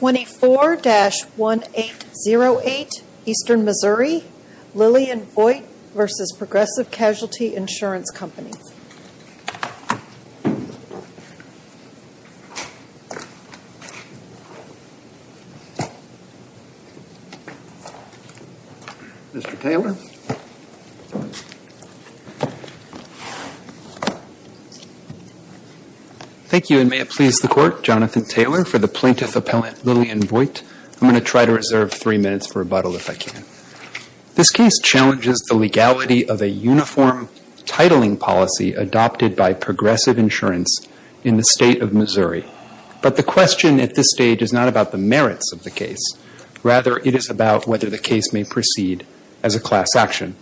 24-1808 Eastern Missouri, Lillian Vogt v. Progressive Casualty Insurance Company. Mr. Taylor. Thank you, and may it please the Court, Jonathan Taylor for the Plaintiff Appellant Lillian Vogt. I'm going to try to reserve three minutes for rebuttal if I can. This case challenges the legality of a uniform titling policy adopted by progressive insurance in the State of Missouri. But the question at this stage is not about the merits of the case. Rather, it is about whether the case may proceed as a class action.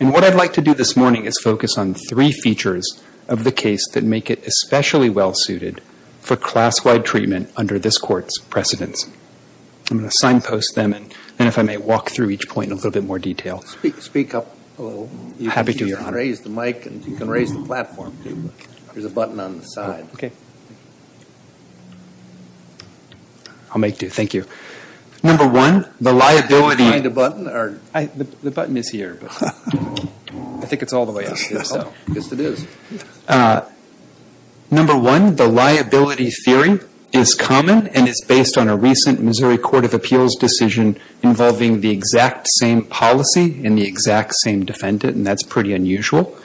And what I'd like to do this morning is focus on three features of the case that make it especially well-suited for class-wide treatment under this Court's precedence. I'm going to signpost them, and then if I may walk through each point in a little bit more detail. Speak up a little. I'm happy to. Raise the mic, and you can raise the platform, too. There's a button on the side. I'll make do. Thank you. Number one, the liability. Did you find a button? The button is here, but I think it's all the way up here. Yes, it is. Number one, the liability theory is common and is based on a recent Missouri Court of Appeals decision involving the exact same policy and the exact same defendant. And that's pretty unusual.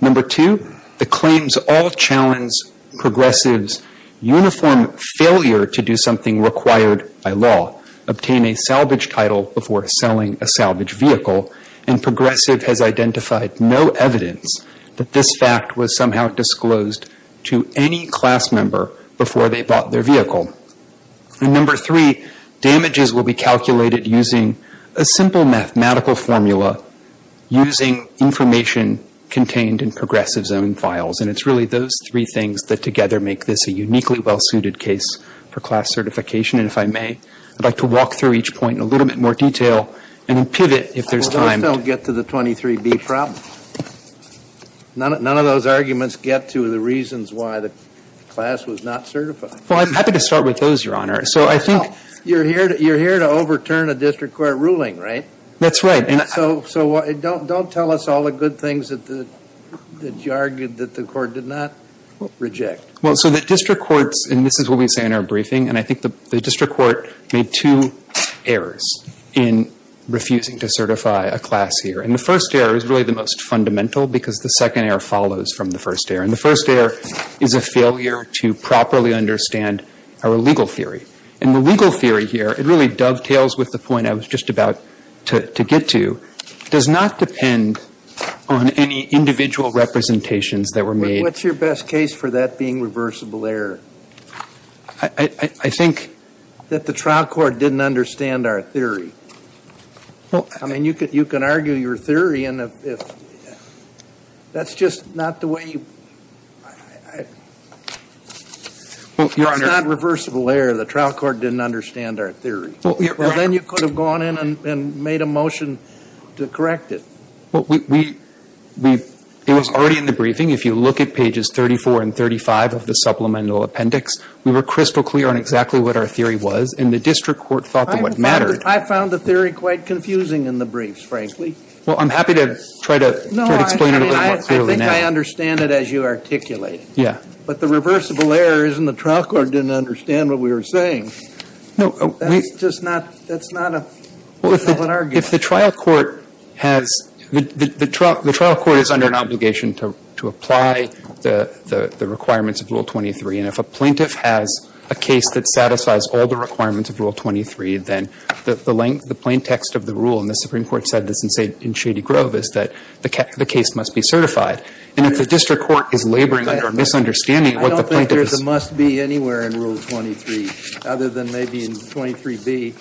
Number two, the claims all challenge Progressive's uniform failure to do something required by law, obtain a salvage title before selling a salvage vehicle. And Progressive has identified no evidence that this fact was somehow disclosed to any class member before they bought their vehicle. And number three, damages will be calculated using a simple mathematical formula, using information contained in Progressive's own files. And it's really those three things that together make this a uniquely well-suited case for class certification. And if I may, I'd like to walk through each point in a little bit more detail and then pivot if there's time. None of those arguments get to the 23B problem. None of those arguments get to the reasons why the class was not certified. Well, I'm happy to start with those, Your Honor. So I think you're here to overturn a district court ruling, right? That's right. So don't tell us all the good things that you argued that the court did not reject. Well, so the district courts, and this is what we say in our briefing, and I think the district court made two errors in refusing to certify a class here. And the first error is really the most fundamental because the second error follows from the first error. And the first error is a failure to properly understand our legal theory. And the legal theory here, it really dovetails with the point I was just about to get to, does not depend on any individual representations that were made. What's your best case for that being reversible error? I think that the trial court didn't understand our theory. I mean, you can argue your theory, and if that's just not the way you – if it's not reversible error, the trial court didn't understand our theory. Well, then you could have gone in and made a motion to correct it. Well, we – it was already in the briefing. If you look at pages 34 and 35 of the supplemental appendix, we were crystal clear on exactly what our theory was. And the district court thought that what mattered – I found the theory quite confusing in the briefs, frankly. Well, I'm happy to try to explain it a little more clearly now. No, I mean, I think I understand it as you articulate it. Yeah. But the reversible error is in the trial court didn't understand what we were saying. No, we – That's just not – that's not a – that's not an argument. Well, if the trial court has – the trial court is under an obligation to apply the requirements of Rule 23. And if a plaintiff has a case that satisfies all the requirements of Rule 23, then the length – the plain text of the rule, and the Supreme Court said this in Shady Grove, is that the case must be certified. And if the district court is laboring under a misunderstanding of what the plaintiff is – I don't think there's a must be anywhere in Rule 23, other than maybe in 23B.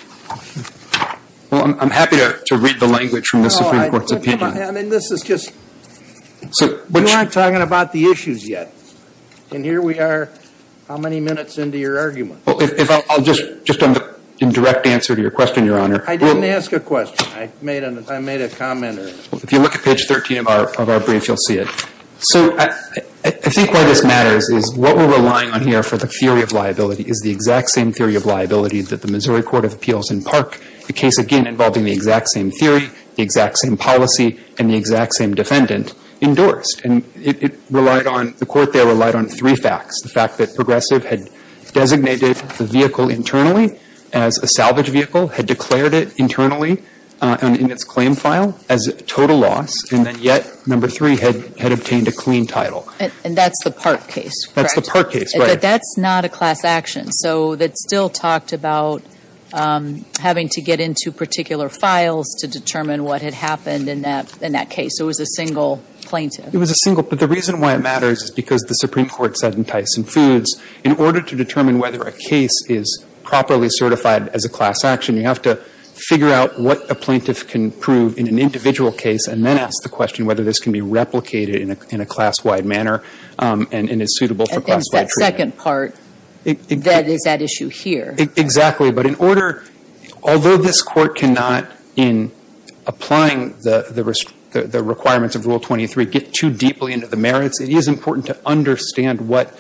Well, I'm happy to read the language from the Supreme Court's opinion. No, I mean, this is just – we aren't talking about the issues yet. And here we are, how many minutes into your argument? Well, if I'll just – just in direct answer to your question, Your Honor. I didn't ask a question. I made a comment. If you look at page 13 of our brief, you'll see it. So I think why this matters is what we're relying on here for the theory of liability is the exact same theory of liability that the Missouri Court of Appeals in Park, a case, again, involving the exact same theory, the exact same policy, and the exact same defendant, endorsed. And it relied on – the court there relied on three facts, the fact that Progressive had designated the vehicle internally as a salvage vehicle, had declared it internally in its claim file as total loss, and then yet, number three, had obtained a clean title. And that's the Park case, correct? That's the Park case, right. But that's not a class action. So that still talked about having to get into particular files to determine what had happened in that case. It was a single plaintiff. It was a single – but the reason why it matters is because the Supreme Court said in Tyson Foods, in order to determine whether a case is properly certified as a class action, you have to figure out what a plaintiff can prove in an individual case and then ask the question whether this can be replicated in a class-wide manner and is suitable for class-wide treatment. And there's that second part that is at issue here. Exactly. But in order – although this Court cannot, in applying the requirements of Rule 23, get too deeply into the merits, it is important to understand what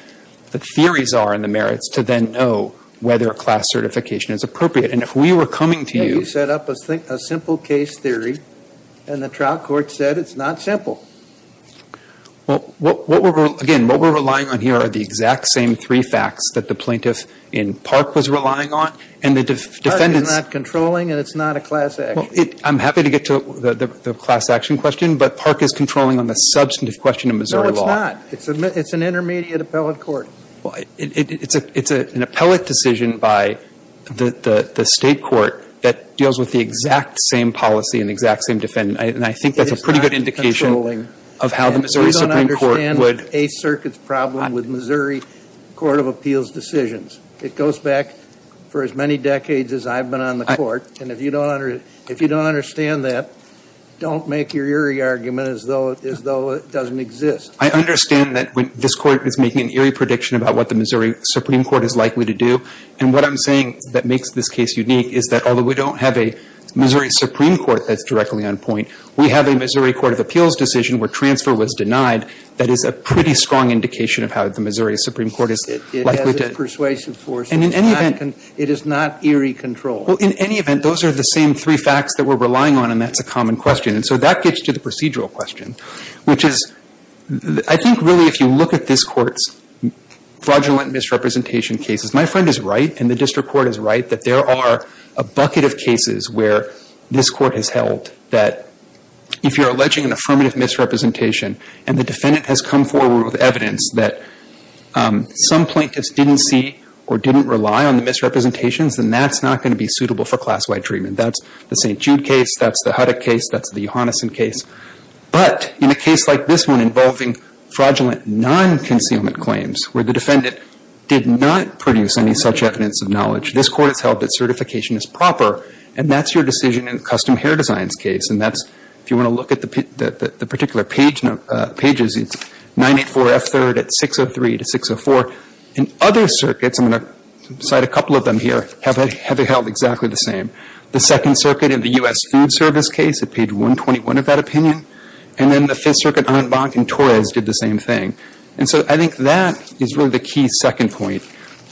the theories are in the merits to then know whether a class certification is appropriate. And if we were coming to you – You set up a simple case theory, and the trial court said it's not simple. Well, what we're – again, what we're relying on here are the exact same three facts that the plaintiff in Park was relying on, and the defendants – Park is not controlling, and it's not a class action. I'm happy to get to the class action question, but Park is controlling on the substantive question of Missouri law. No, it's not. It's an intermediate appellate court. It's an appellate decision by the State court that deals with the exact same policy and the exact same defendant. And I think that's a pretty good indication of how the Missouri Supreme Court would – It goes back for as many decades as I've been on the Court. And if you don't – if you don't understand that, don't make your eerie argument as though it doesn't exist. I understand that this Court is making an eerie prediction about what the Missouri Supreme Court is likely to do. And what I'm saying that makes this case unique is that, although we don't have a Missouri Supreme Court that's directly on point, we have a Missouri Court of Appeals decision where transfer was denied. That is a pretty strong indication of how the Missouri Supreme Court is likely to – It has a persuasive force. And in any event – It is not eerie control. Well, in any event, those are the same three facts that we're relying on, and that's a common question. And so that gets to the procedural question, which is – I think really if you look at this Court's fraudulent misrepresentation cases, my friend is right, and the district court is right, that there are a bucket of cases where this Court has held that if you're alleging an affirmative misrepresentation and the defendant has come forward with evidence that some plaintiffs didn't see or didn't rely on the misrepresentations, then that's not going to be suitable for class-wide treatment. That's the St. Jude case. That's the Huddock case. That's the Johanneson case. But in a case like this one involving fraudulent non-concealment claims where the defendant did not produce any such evidence of knowledge, this Court has held that certification is proper, and that's your decision in the custom hair designs case. And that's – if you want to look at the particular pages, it's 984F3rd at 603 to 604. And other circuits – I'm going to cite a couple of them here – have held exactly the same. The Second Circuit in the U.S. Food Service case, at page 121 of that opinion, and then the Fifth Circuit en banc in Torres did the same thing. And so I think that is really the key second point,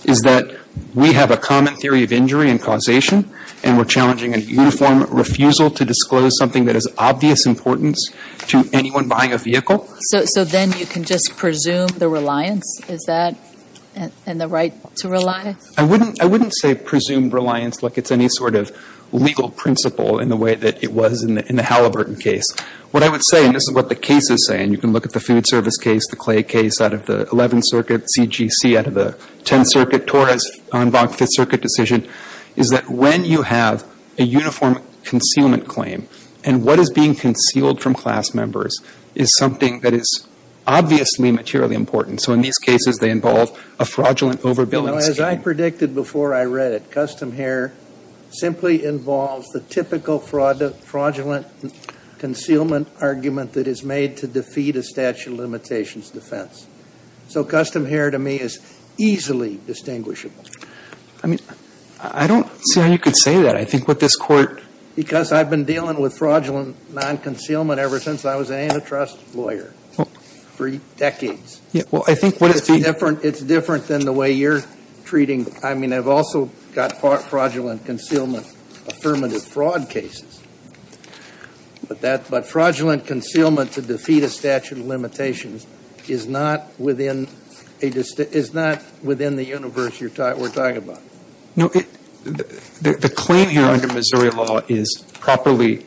is that we have a common theory of injury and causation, and we're challenging a uniform refusal to disclose something that is of obvious importance to anyone buying a vehicle. So then you can just presume the reliance? Is that – and the right to rely? I wouldn't say presume reliance like it's any sort of legal principle in the way that it was in the Halliburton case. What I would say – and this is what the cases say, and you can look at the Food Service case, the Clay case, out of the Eleventh Circuit, C.G.C. out of the Tenth Circuit, Torres en banc Fifth Circuit decision, is that when you have a uniform concealment claim, and what is being concealed from class members is something that is obviously materially important. So in these cases, they involve a fraudulent overbilling scheme. As I predicted before I read it, custom here simply involves the typical fraudulent concealment argument that is made to defeat a statute of limitations defense. So custom here to me is easily distinguishable. I mean, I don't see how you could say that. I think what this Court – Because I've been dealing with fraudulent non-concealment ever since I was an antitrust lawyer for decades. Well, I think what it's being – It's different than the way you're treating – I mean, I've also got fraudulent concealment affirmative fraud cases. But fraudulent concealment to defeat a statute of limitations is not within the universe we're talking about. No, the claim here under Missouri law is properly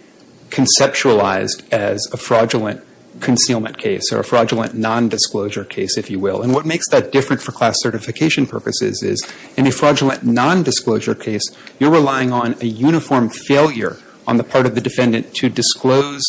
conceptualized as a fraudulent concealment case or a fraudulent non-disclosure case, if you will. And what makes that different for class certification purposes is in a fraudulent non-disclosure case, you're relying on a uniform failure on the part of the defendant to disclose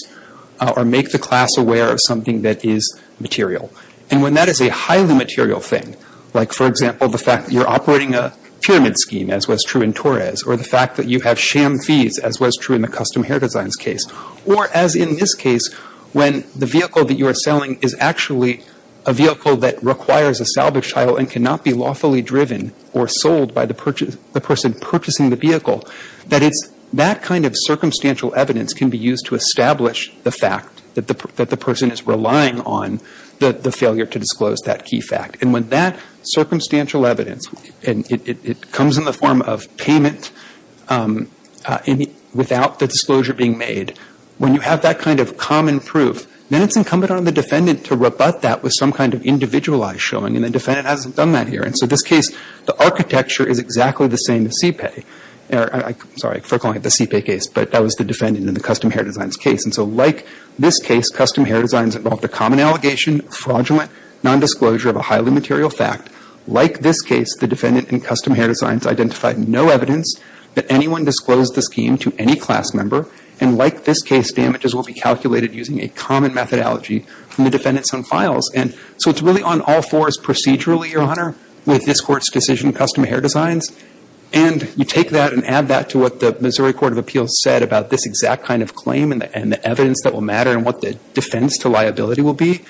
or make the class aware of something that is material. And when that is a highly material thing, like, for example, the fact that you're operating a pyramid scheme, as was true in Torres, or the fact that you have sham fees, as was true in the custom hair designs case, or as in this case, when the vehicle that you are selling is actually a vehicle that requires a salvage title and cannot be lawfully driven or sold by the person purchasing the vehicle, that it's that kind of circumstantial evidence can be used to establish the fact that the person is relying on the failure to disclose that key fact. And when that circumstantial evidence, and it comes in the form of payment without the disclosure being made, when you have that kind of common proof, then it's incumbent on the defendant to rebut that with some kind of individualized showing, and the defendant hasn't done that here. And so in this case, the architecture is exactly the same as CPAY. Sorry, for calling it the CPAY case, but that was the defendant in the custom hair designs case. And so like this case, custom hair designs involved a common allegation, fraudulent nondisclosure of a highly material fact. Like this case, the defendant in custom hair designs identified no evidence that anyone disclosed the scheme to any class member. And like this case, damages will be calculated using a common methodology from the defendant's own files. And so it's really on all fours procedurally, Your Honor, with this Court's decision, custom hair designs. And you take that and add that to what the Missouri Court of Appeals said about this exact kind of claim and the evidence that will matter and what the defense to liability will be.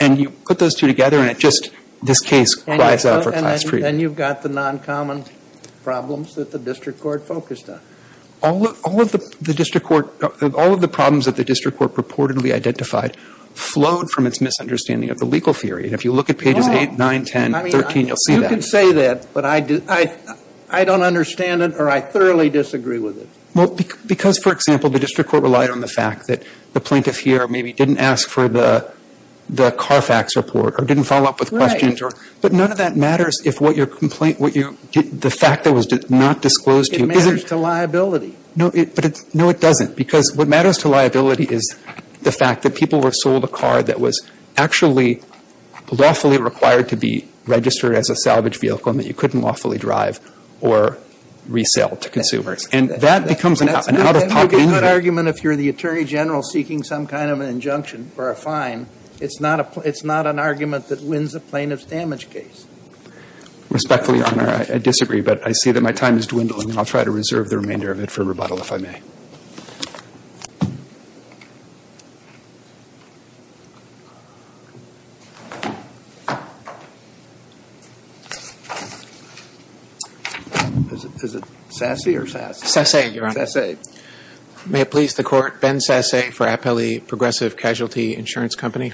And you put those two together, and it just, this case cries out for class freedom. And you've got the noncommon problems that the district court focused on. All of the district court, all of the problems that the district court purportedly identified flowed from its misunderstanding of the legal theory. And if you look at pages 8, 9, 10, 13, you'll see that. You can say that, but I don't understand it or I thoroughly disagree with it. Well, because, for example, the district court relied on the fact that the plaintiff here maybe didn't ask for the Carfax report or didn't follow up with questions. But none of that matters if what your complaint, the fact that it was not disclosed to you. It matters to liability. No, it doesn't. Because what matters to liability is the fact that people were sold a car that was actually lawfully required to be registered as a salvage vehicle and that you couldn't lawfully drive or resell to consumers. And that becomes an out-of-pocket invention. That's a good argument if you're the Attorney General seeking some kind of an injunction or a fine. It's not an argument that wins a plaintiff's damage case. Respectfully, Your Honor, I disagree. But I see that my time is dwindling, and I'll try to reserve the remainder of it for rebuttal if I may. Is it Sasse or Sasse? Sasse, Your Honor. May it please the Court, Ben Sasse for Appellee Progressive Casualty Insurance Company.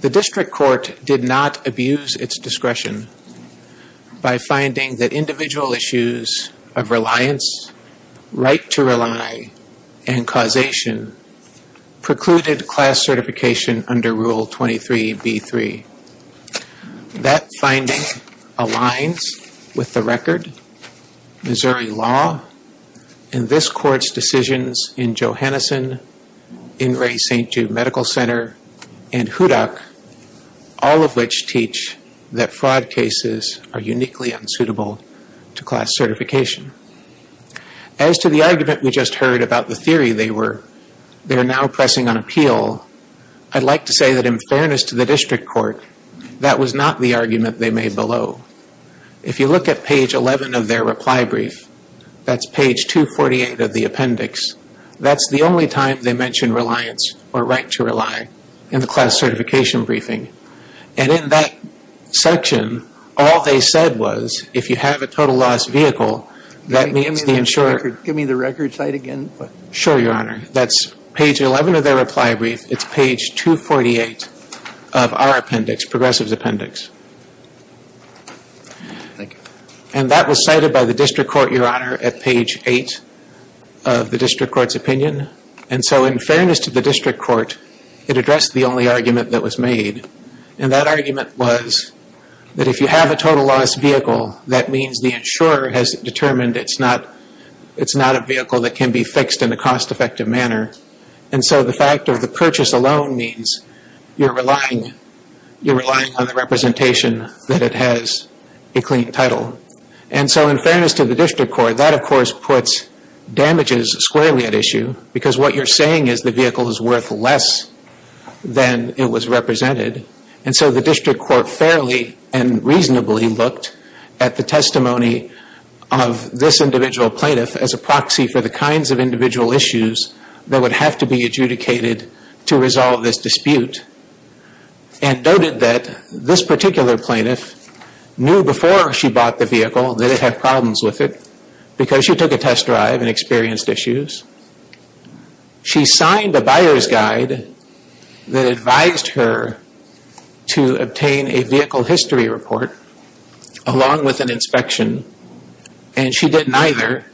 The district court did not abuse its discretion by finding that individual issues of reliance, right to rely, and causation precluded class certification under Rule 23b-3. That finding aligns with the record, Missouri law, and this Court's decisions in Johanneson, In re St. Jude Medical Center, and Hudak, all of which teach that fraud cases are uniquely unsuitable to class certification. As to the argument we just heard about the theory they were now pressing on appeal, I'd like to say that in fairness to the district court, that was not the argument they made below. If you look at page 11 of their reply brief, that's page 248 of the appendix, that's the only time they mention reliance or right to rely in the class certification briefing. And in that section, all they said was, if you have a total loss vehicle, that means the insurer... Give me the record site again. Sure, Your Honor. That's page 11 of their reply brief. It's page 248 of our appendix, Progressive's appendix. And that was cited by the district court, Your Honor, at page 8 of the district court's opinion. And so in fairness to the district court, it addressed the only argument that was made. And that argument was that if you have a total loss vehicle, that means the insurer has determined it's not a vehicle that can be fixed in a cost-effective manner. And so the fact of the purchase alone means you're relying on the representation that it has a clean title. And so in fairness to the district court, that of course puts damages squarely at issue, because what you're saying is the vehicle is worth less than it was represented. And so the district court fairly and reasonably looked at the testimony of this individual plaintiff as a proxy for the kinds of individual issues that would have to be adjudicated to resolve this dispute and noted that this particular plaintiff knew before she bought the vehicle that it had problems with it because she took a test drive and experienced issues. She signed a buyer's guide that advised her to obtain a vehicle history report along with an inspection, and she didn't either.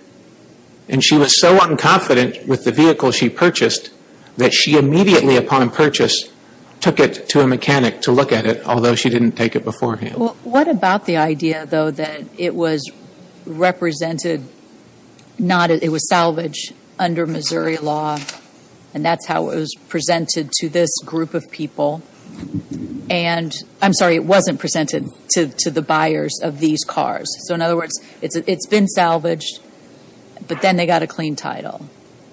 And she was so unconfident with the vehicle she purchased that she immediately upon purchase took it to a mechanic to look at it, although she didn't take it beforehand. What about the idea, though, that it was represented, it was salvaged under Missouri law and that's how it was presented to this group of people? I'm sorry, it wasn't presented to the buyers of these cars. So in other words, it's been salvaged, but then they got a clean title.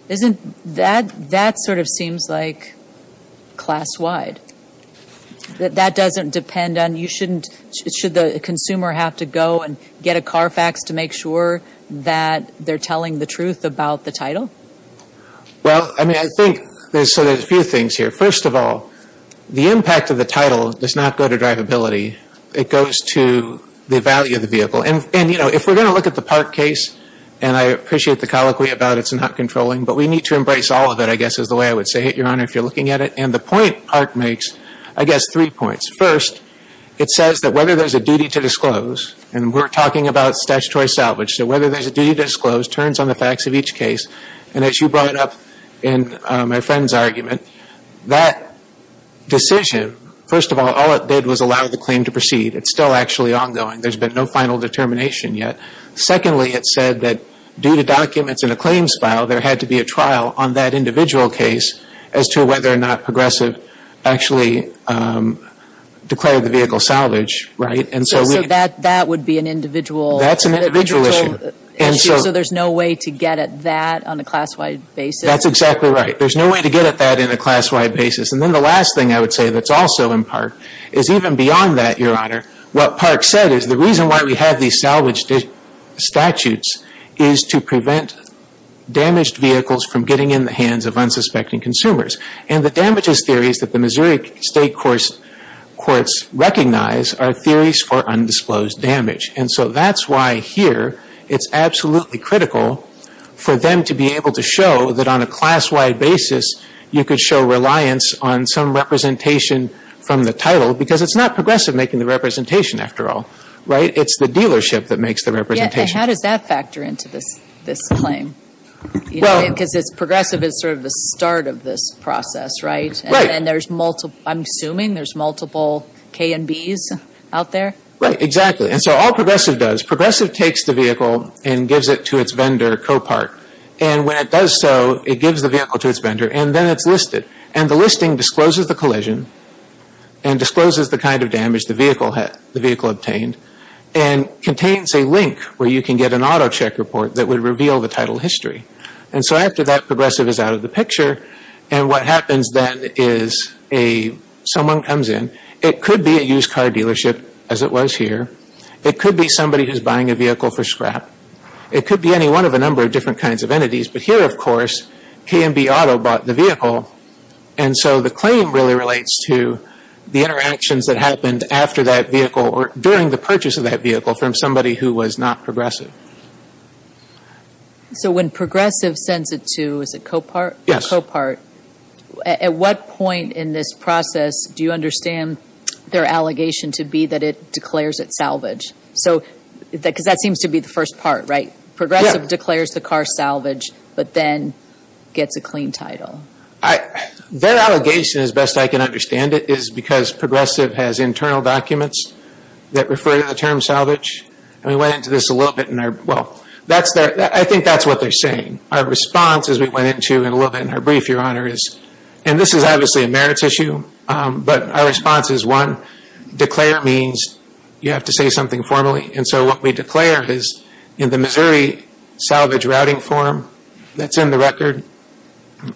That sort of seems like class-wide. That doesn't depend on, you shouldn't, should the consumer have to go and get a Carfax to make sure that they're telling the truth about the title? Well, I mean, I think there's sort of a few things here. First of all, the impact of the title does not go to drivability. It goes to the value of the vehicle. And, you know, if we're going to look at the Park case, and I appreciate the colloquy about it's not controlling, but we need to embrace all of it I guess is the way I would say it, Your Honor, if you're looking at it, and the point Park makes, I guess, three points. First, it says that whether there's a duty to disclose, and we're talking about statutory salvage, so whether there's a duty to disclose turns on the facts of each case. And as you brought up in my friend's argument, that decision, first of all, all it did was allow the claim to proceed. It's still actually ongoing. There's been no final determination yet. Secondly, it said that due to documents in a claims file, there had to be a trial on that individual case as to whether or not Progressive actually declared the vehicle salvage. So that would be an individual issue? That's an individual issue. So there's no way to get at that on a class-wide basis? That's exactly right. There's no way to get at that in a class-wide basis. And then the last thing I would say that's also in Park is even beyond that, Your Honor, what Park said is the reason why we have these salvage statutes is to prevent damaged vehicles from getting in the hands of unsuspecting consumers. And the damages theories that the Missouri State Courts recognize are theories for undisclosed damage. And so that's why here it's absolutely critical for them to be able to show that on a class-wide basis, you could show reliance on some representation from the title, because it's not Progressive making the representation after all, right? It's the dealership that makes the representation. How does that factor into this claim? Because Progressive is sort of the start of this process, right? Right. And I'm assuming there's multiple K&Bs out there? Right, exactly. And so all Progressive does, Progressive takes the vehicle and gives it to its vendor, Copark. And when it does so, it gives the vehicle to its vendor, and then it's listed. And the listing discloses the collision and discloses the kind of damage the vehicle obtained and contains a link where you can get an auto check report that would reveal the title history. And so after that, Progressive is out of the picture. And what happens then is someone comes in. It could be a used car dealership, as it was here. It could be somebody who's buying a vehicle for scrap. It could be any one of a number of different kinds of entities. But here, of course, K&B Auto bought the vehicle. And so the claim really relates to the interactions that happened after that vehicle or during the purchase of that vehicle from somebody who was not Progressive. So when Progressive sends it to, is it Copark? Yes. Copark. At what point in this process do you understand their allegation to be that it declares it salvage? Because that seems to be the first part, right? Progressive declares the car salvage but then gets a clean title. Their allegation, as best I can understand it, is because Progressive has internal documents that refer to the term salvage. And we went into this a little bit in our, well, I think that's what they're saying. Our response, as we went into it a little bit in our brief, Your Honor, is, and this is obviously a merits issue, but our response is, one, declare means you have to say something formally. And so what we declare is in the Missouri salvage routing form that's in the record,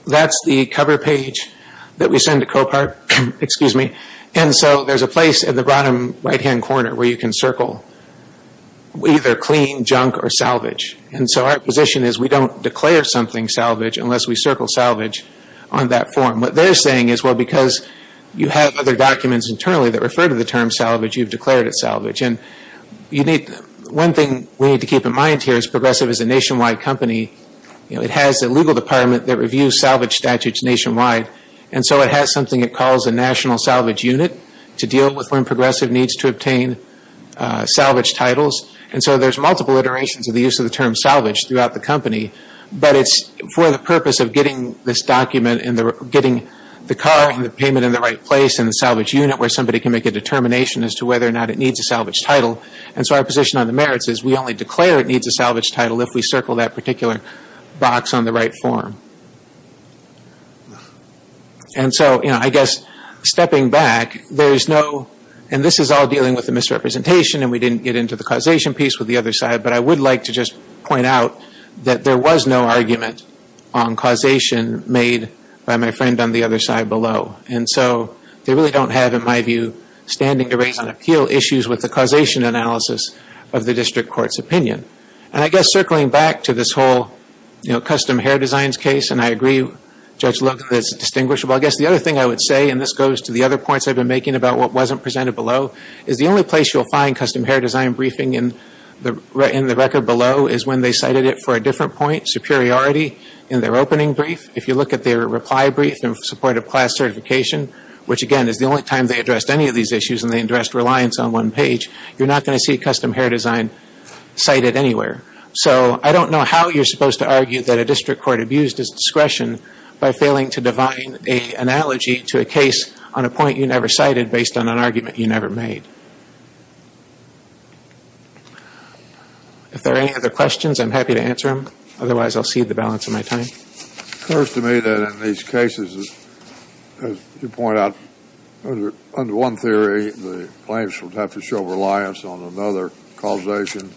that's the cover page that we send to Copark. And so there's a place in the bottom right-hand corner where you can circle either clean, junk, or salvage. And so our position is we don't declare something salvage unless we circle salvage on that form. What they're saying is, well, because you have other documents internally that refer to the term salvage, you've declared it salvage. And one thing we need to keep in mind here is Progressive is a nationwide company. It has a legal department that reviews salvage statutes nationwide. And so it has something it calls a national salvage unit to deal with when Progressive needs to obtain salvage titles. And so there's multiple iterations of the use of the term salvage throughout the company. But it's for the purpose of getting this document and getting the car and the payment in the right place in the salvage unit where somebody can make a determination as to whether or not it needs a salvage title. And so our position on the merits is we only declare it needs a salvage title if we circle that particular box on the right form. And so, you know, I guess stepping back, there's no – and this is all dealing with the misrepresentation and we didn't get into the causation piece with the other side. But I would like to just point out that there was no argument on causation made by my friend on the other side below. And so they really don't have, in my view, standing to raise on appeal issues with the causation analysis of the district court's opinion. And I guess circling back to this whole, you know, custom hair designs case, and I agree, Judge Luke, that it's distinguishable. I guess the other thing I would say, and this goes to the other points I've been making about what wasn't presented below, is the only place you'll find custom hair design briefing in the record below is when they cited it for a different point, superiority in their opening brief. If you look at their reply brief in support of class certification, which again is the only time they addressed any of these issues and they addressed reliance on one page, you're not going to see custom hair design cited anywhere. So I don't know how you're supposed to argue that a district court abused its discretion by failing to divine an analogy to a case on a point you never cited based on an argument you never made. If there are any other questions, I'm happy to answer them. Otherwise, I'll cede the balance of my time. It occurs to me that in these cases, as you point out, under one theory, the plaintiffs would have to show reliance on another causation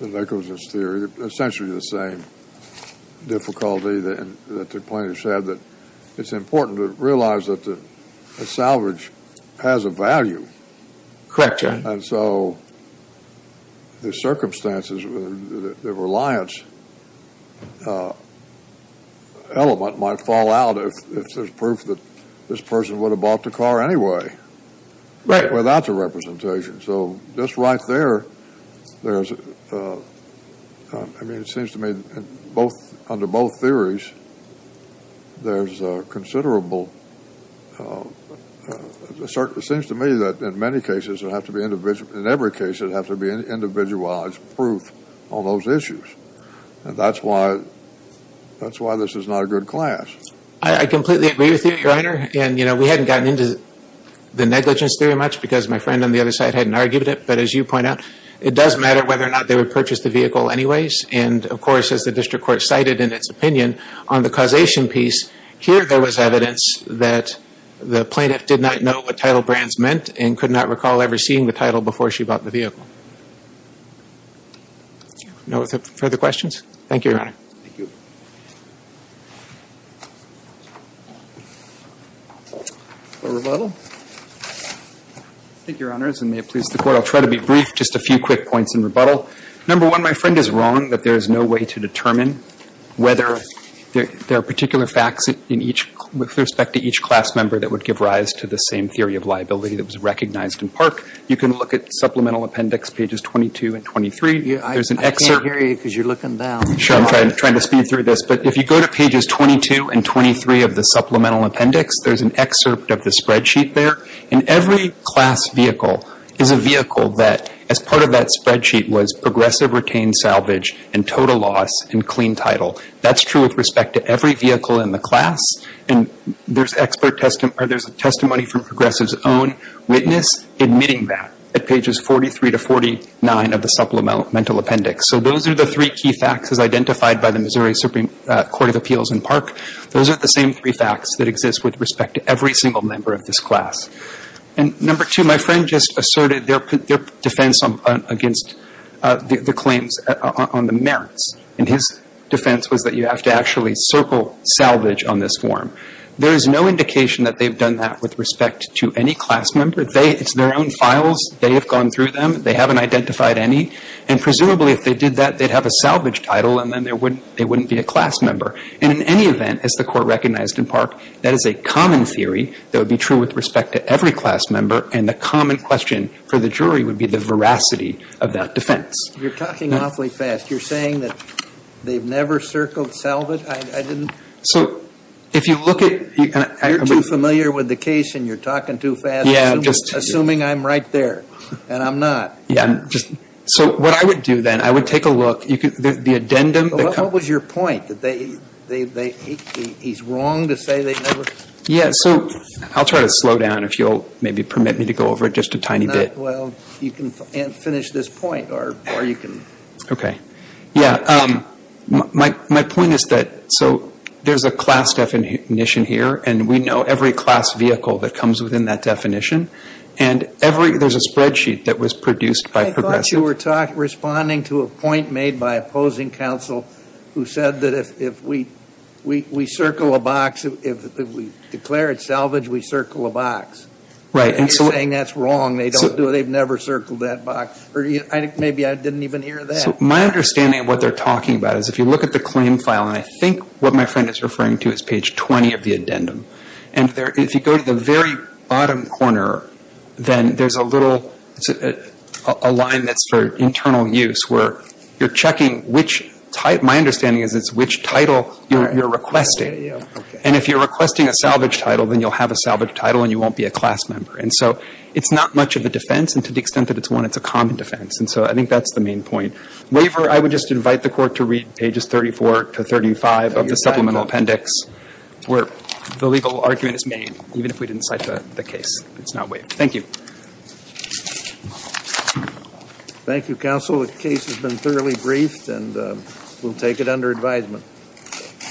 that echoes this theory, essentially the same difficulty that the plaintiffs had, that it's important to realize that the salvage has a value. Correct, Your Honor. And so the circumstances, the reliance element might fall out if there's proof that this person would have bought the car anyway without the representation. So just right there, I mean, it seems to me under both theories, there's a considerable – it seems to me that in many cases, in every case, it would have to be an individualized proof on those issues. And that's why this is not a good class. I completely agree with you, Your Honor. And, you know, we hadn't gotten into the negligence theory much because my friend on the other side hadn't argued it. But as you point out, it does matter whether or not they would purchase the vehicle anyways. And, of course, as the district court cited in its opinion on the causation piece, here there was evidence that the plaintiff did not know what title brands meant and could not recall ever seeing the title before she bought the vehicle. No further questions? Thank you, Your Honor. Thank you. For rebuttal? Thank you, Your Honors, and may it please the Court, I'll try to be brief, just a few quick points in rebuttal. Number one, my friend is wrong that there is no way to determine whether there are particular facts with respect to each class member that would give rise to the same theory of liability that was recognized in Park. You can look at Supplemental Appendix pages 22 and 23. I can't hear you because you're looking down. Sure, I'm trying to speed through this. But if you go to pages 22 and 23 of the Supplemental Appendix, there's an excerpt of the spreadsheet there. And every class vehicle is a vehicle that, as part of that spreadsheet, was progressive retained salvage and total loss and clean title. That's true with respect to every vehicle in the class. And there's a testimony from progressive's own witness admitting that at pages 43 to 49 of the Supplemental Appendix. So those are the three key facts as identified by the Missouri Supreme Court of Appeals in Park. Those are the same three facts that exist with respect to every single member of this class. And number two, my friend just asserted their defense against the claims on the merits. And his defense was that you have to actually circle salvage on this form. There is no indication that they've done that with respect to any class member. It's their own files. They have gone through them. They haven't identified any. And presumably, if they did that, they'd have a salvage title, and then they wouldn't be a class member. And in any event, as the Court recognized in Park, that is a common theory that would be true with respect to every class member. And the common question for the jury would be the veracity of that defense. You're talking awfully fast. You're saying that they've never circled salvage? I didn't – So if you look at – You're too familiar with the case, and you're talking too fast. Yeah, I'm just – Assuming I'm right there, and I'm not. Yeah, I'm just – So what I would do then, I would take a look. The addendum – What was your point? That they – he's wrong to say they've never – Yeah, so I'll try to slow down if you'll maybe permit me to go over it just a tiny bit. Well, you can finish this point, or you can – Okay. Yeah, my point is that – so there's a class definition here, and we know every class vehicle that comes within that definition. And every – there's a spreadsheet that was produced by progressive – who said that if we circle a box, if we declare it salvage, we circle a box. Right, and so – He's saying that's wrong. They don't do it. They've never circled that box. Or maybe I didn't even hear that. So my understanding of what they're talking about is if you look at the claim file, and I think what my friend is referring to is page 20 of the addendum. And if you go to the very bottom corner, then there's a little – a line that's for internal use where you're checking which – my understanding is it's which title you're requesting. And if you're requesting a salvage title, then you'll have a salvage title, and you won't be a class member. And so it's not much of a defense, and to the extent that it's one, it's a common defense. And so I think that's the main point. Waiver – I would just invite the Court to read pages 34 to 35 of the supplemental appendix where the legal argument is made, even if we didn't cite the case. It's not waived. Thank you. Thank you, Counsel. The case has been thoroughly briefed, and we'll take it under advisement.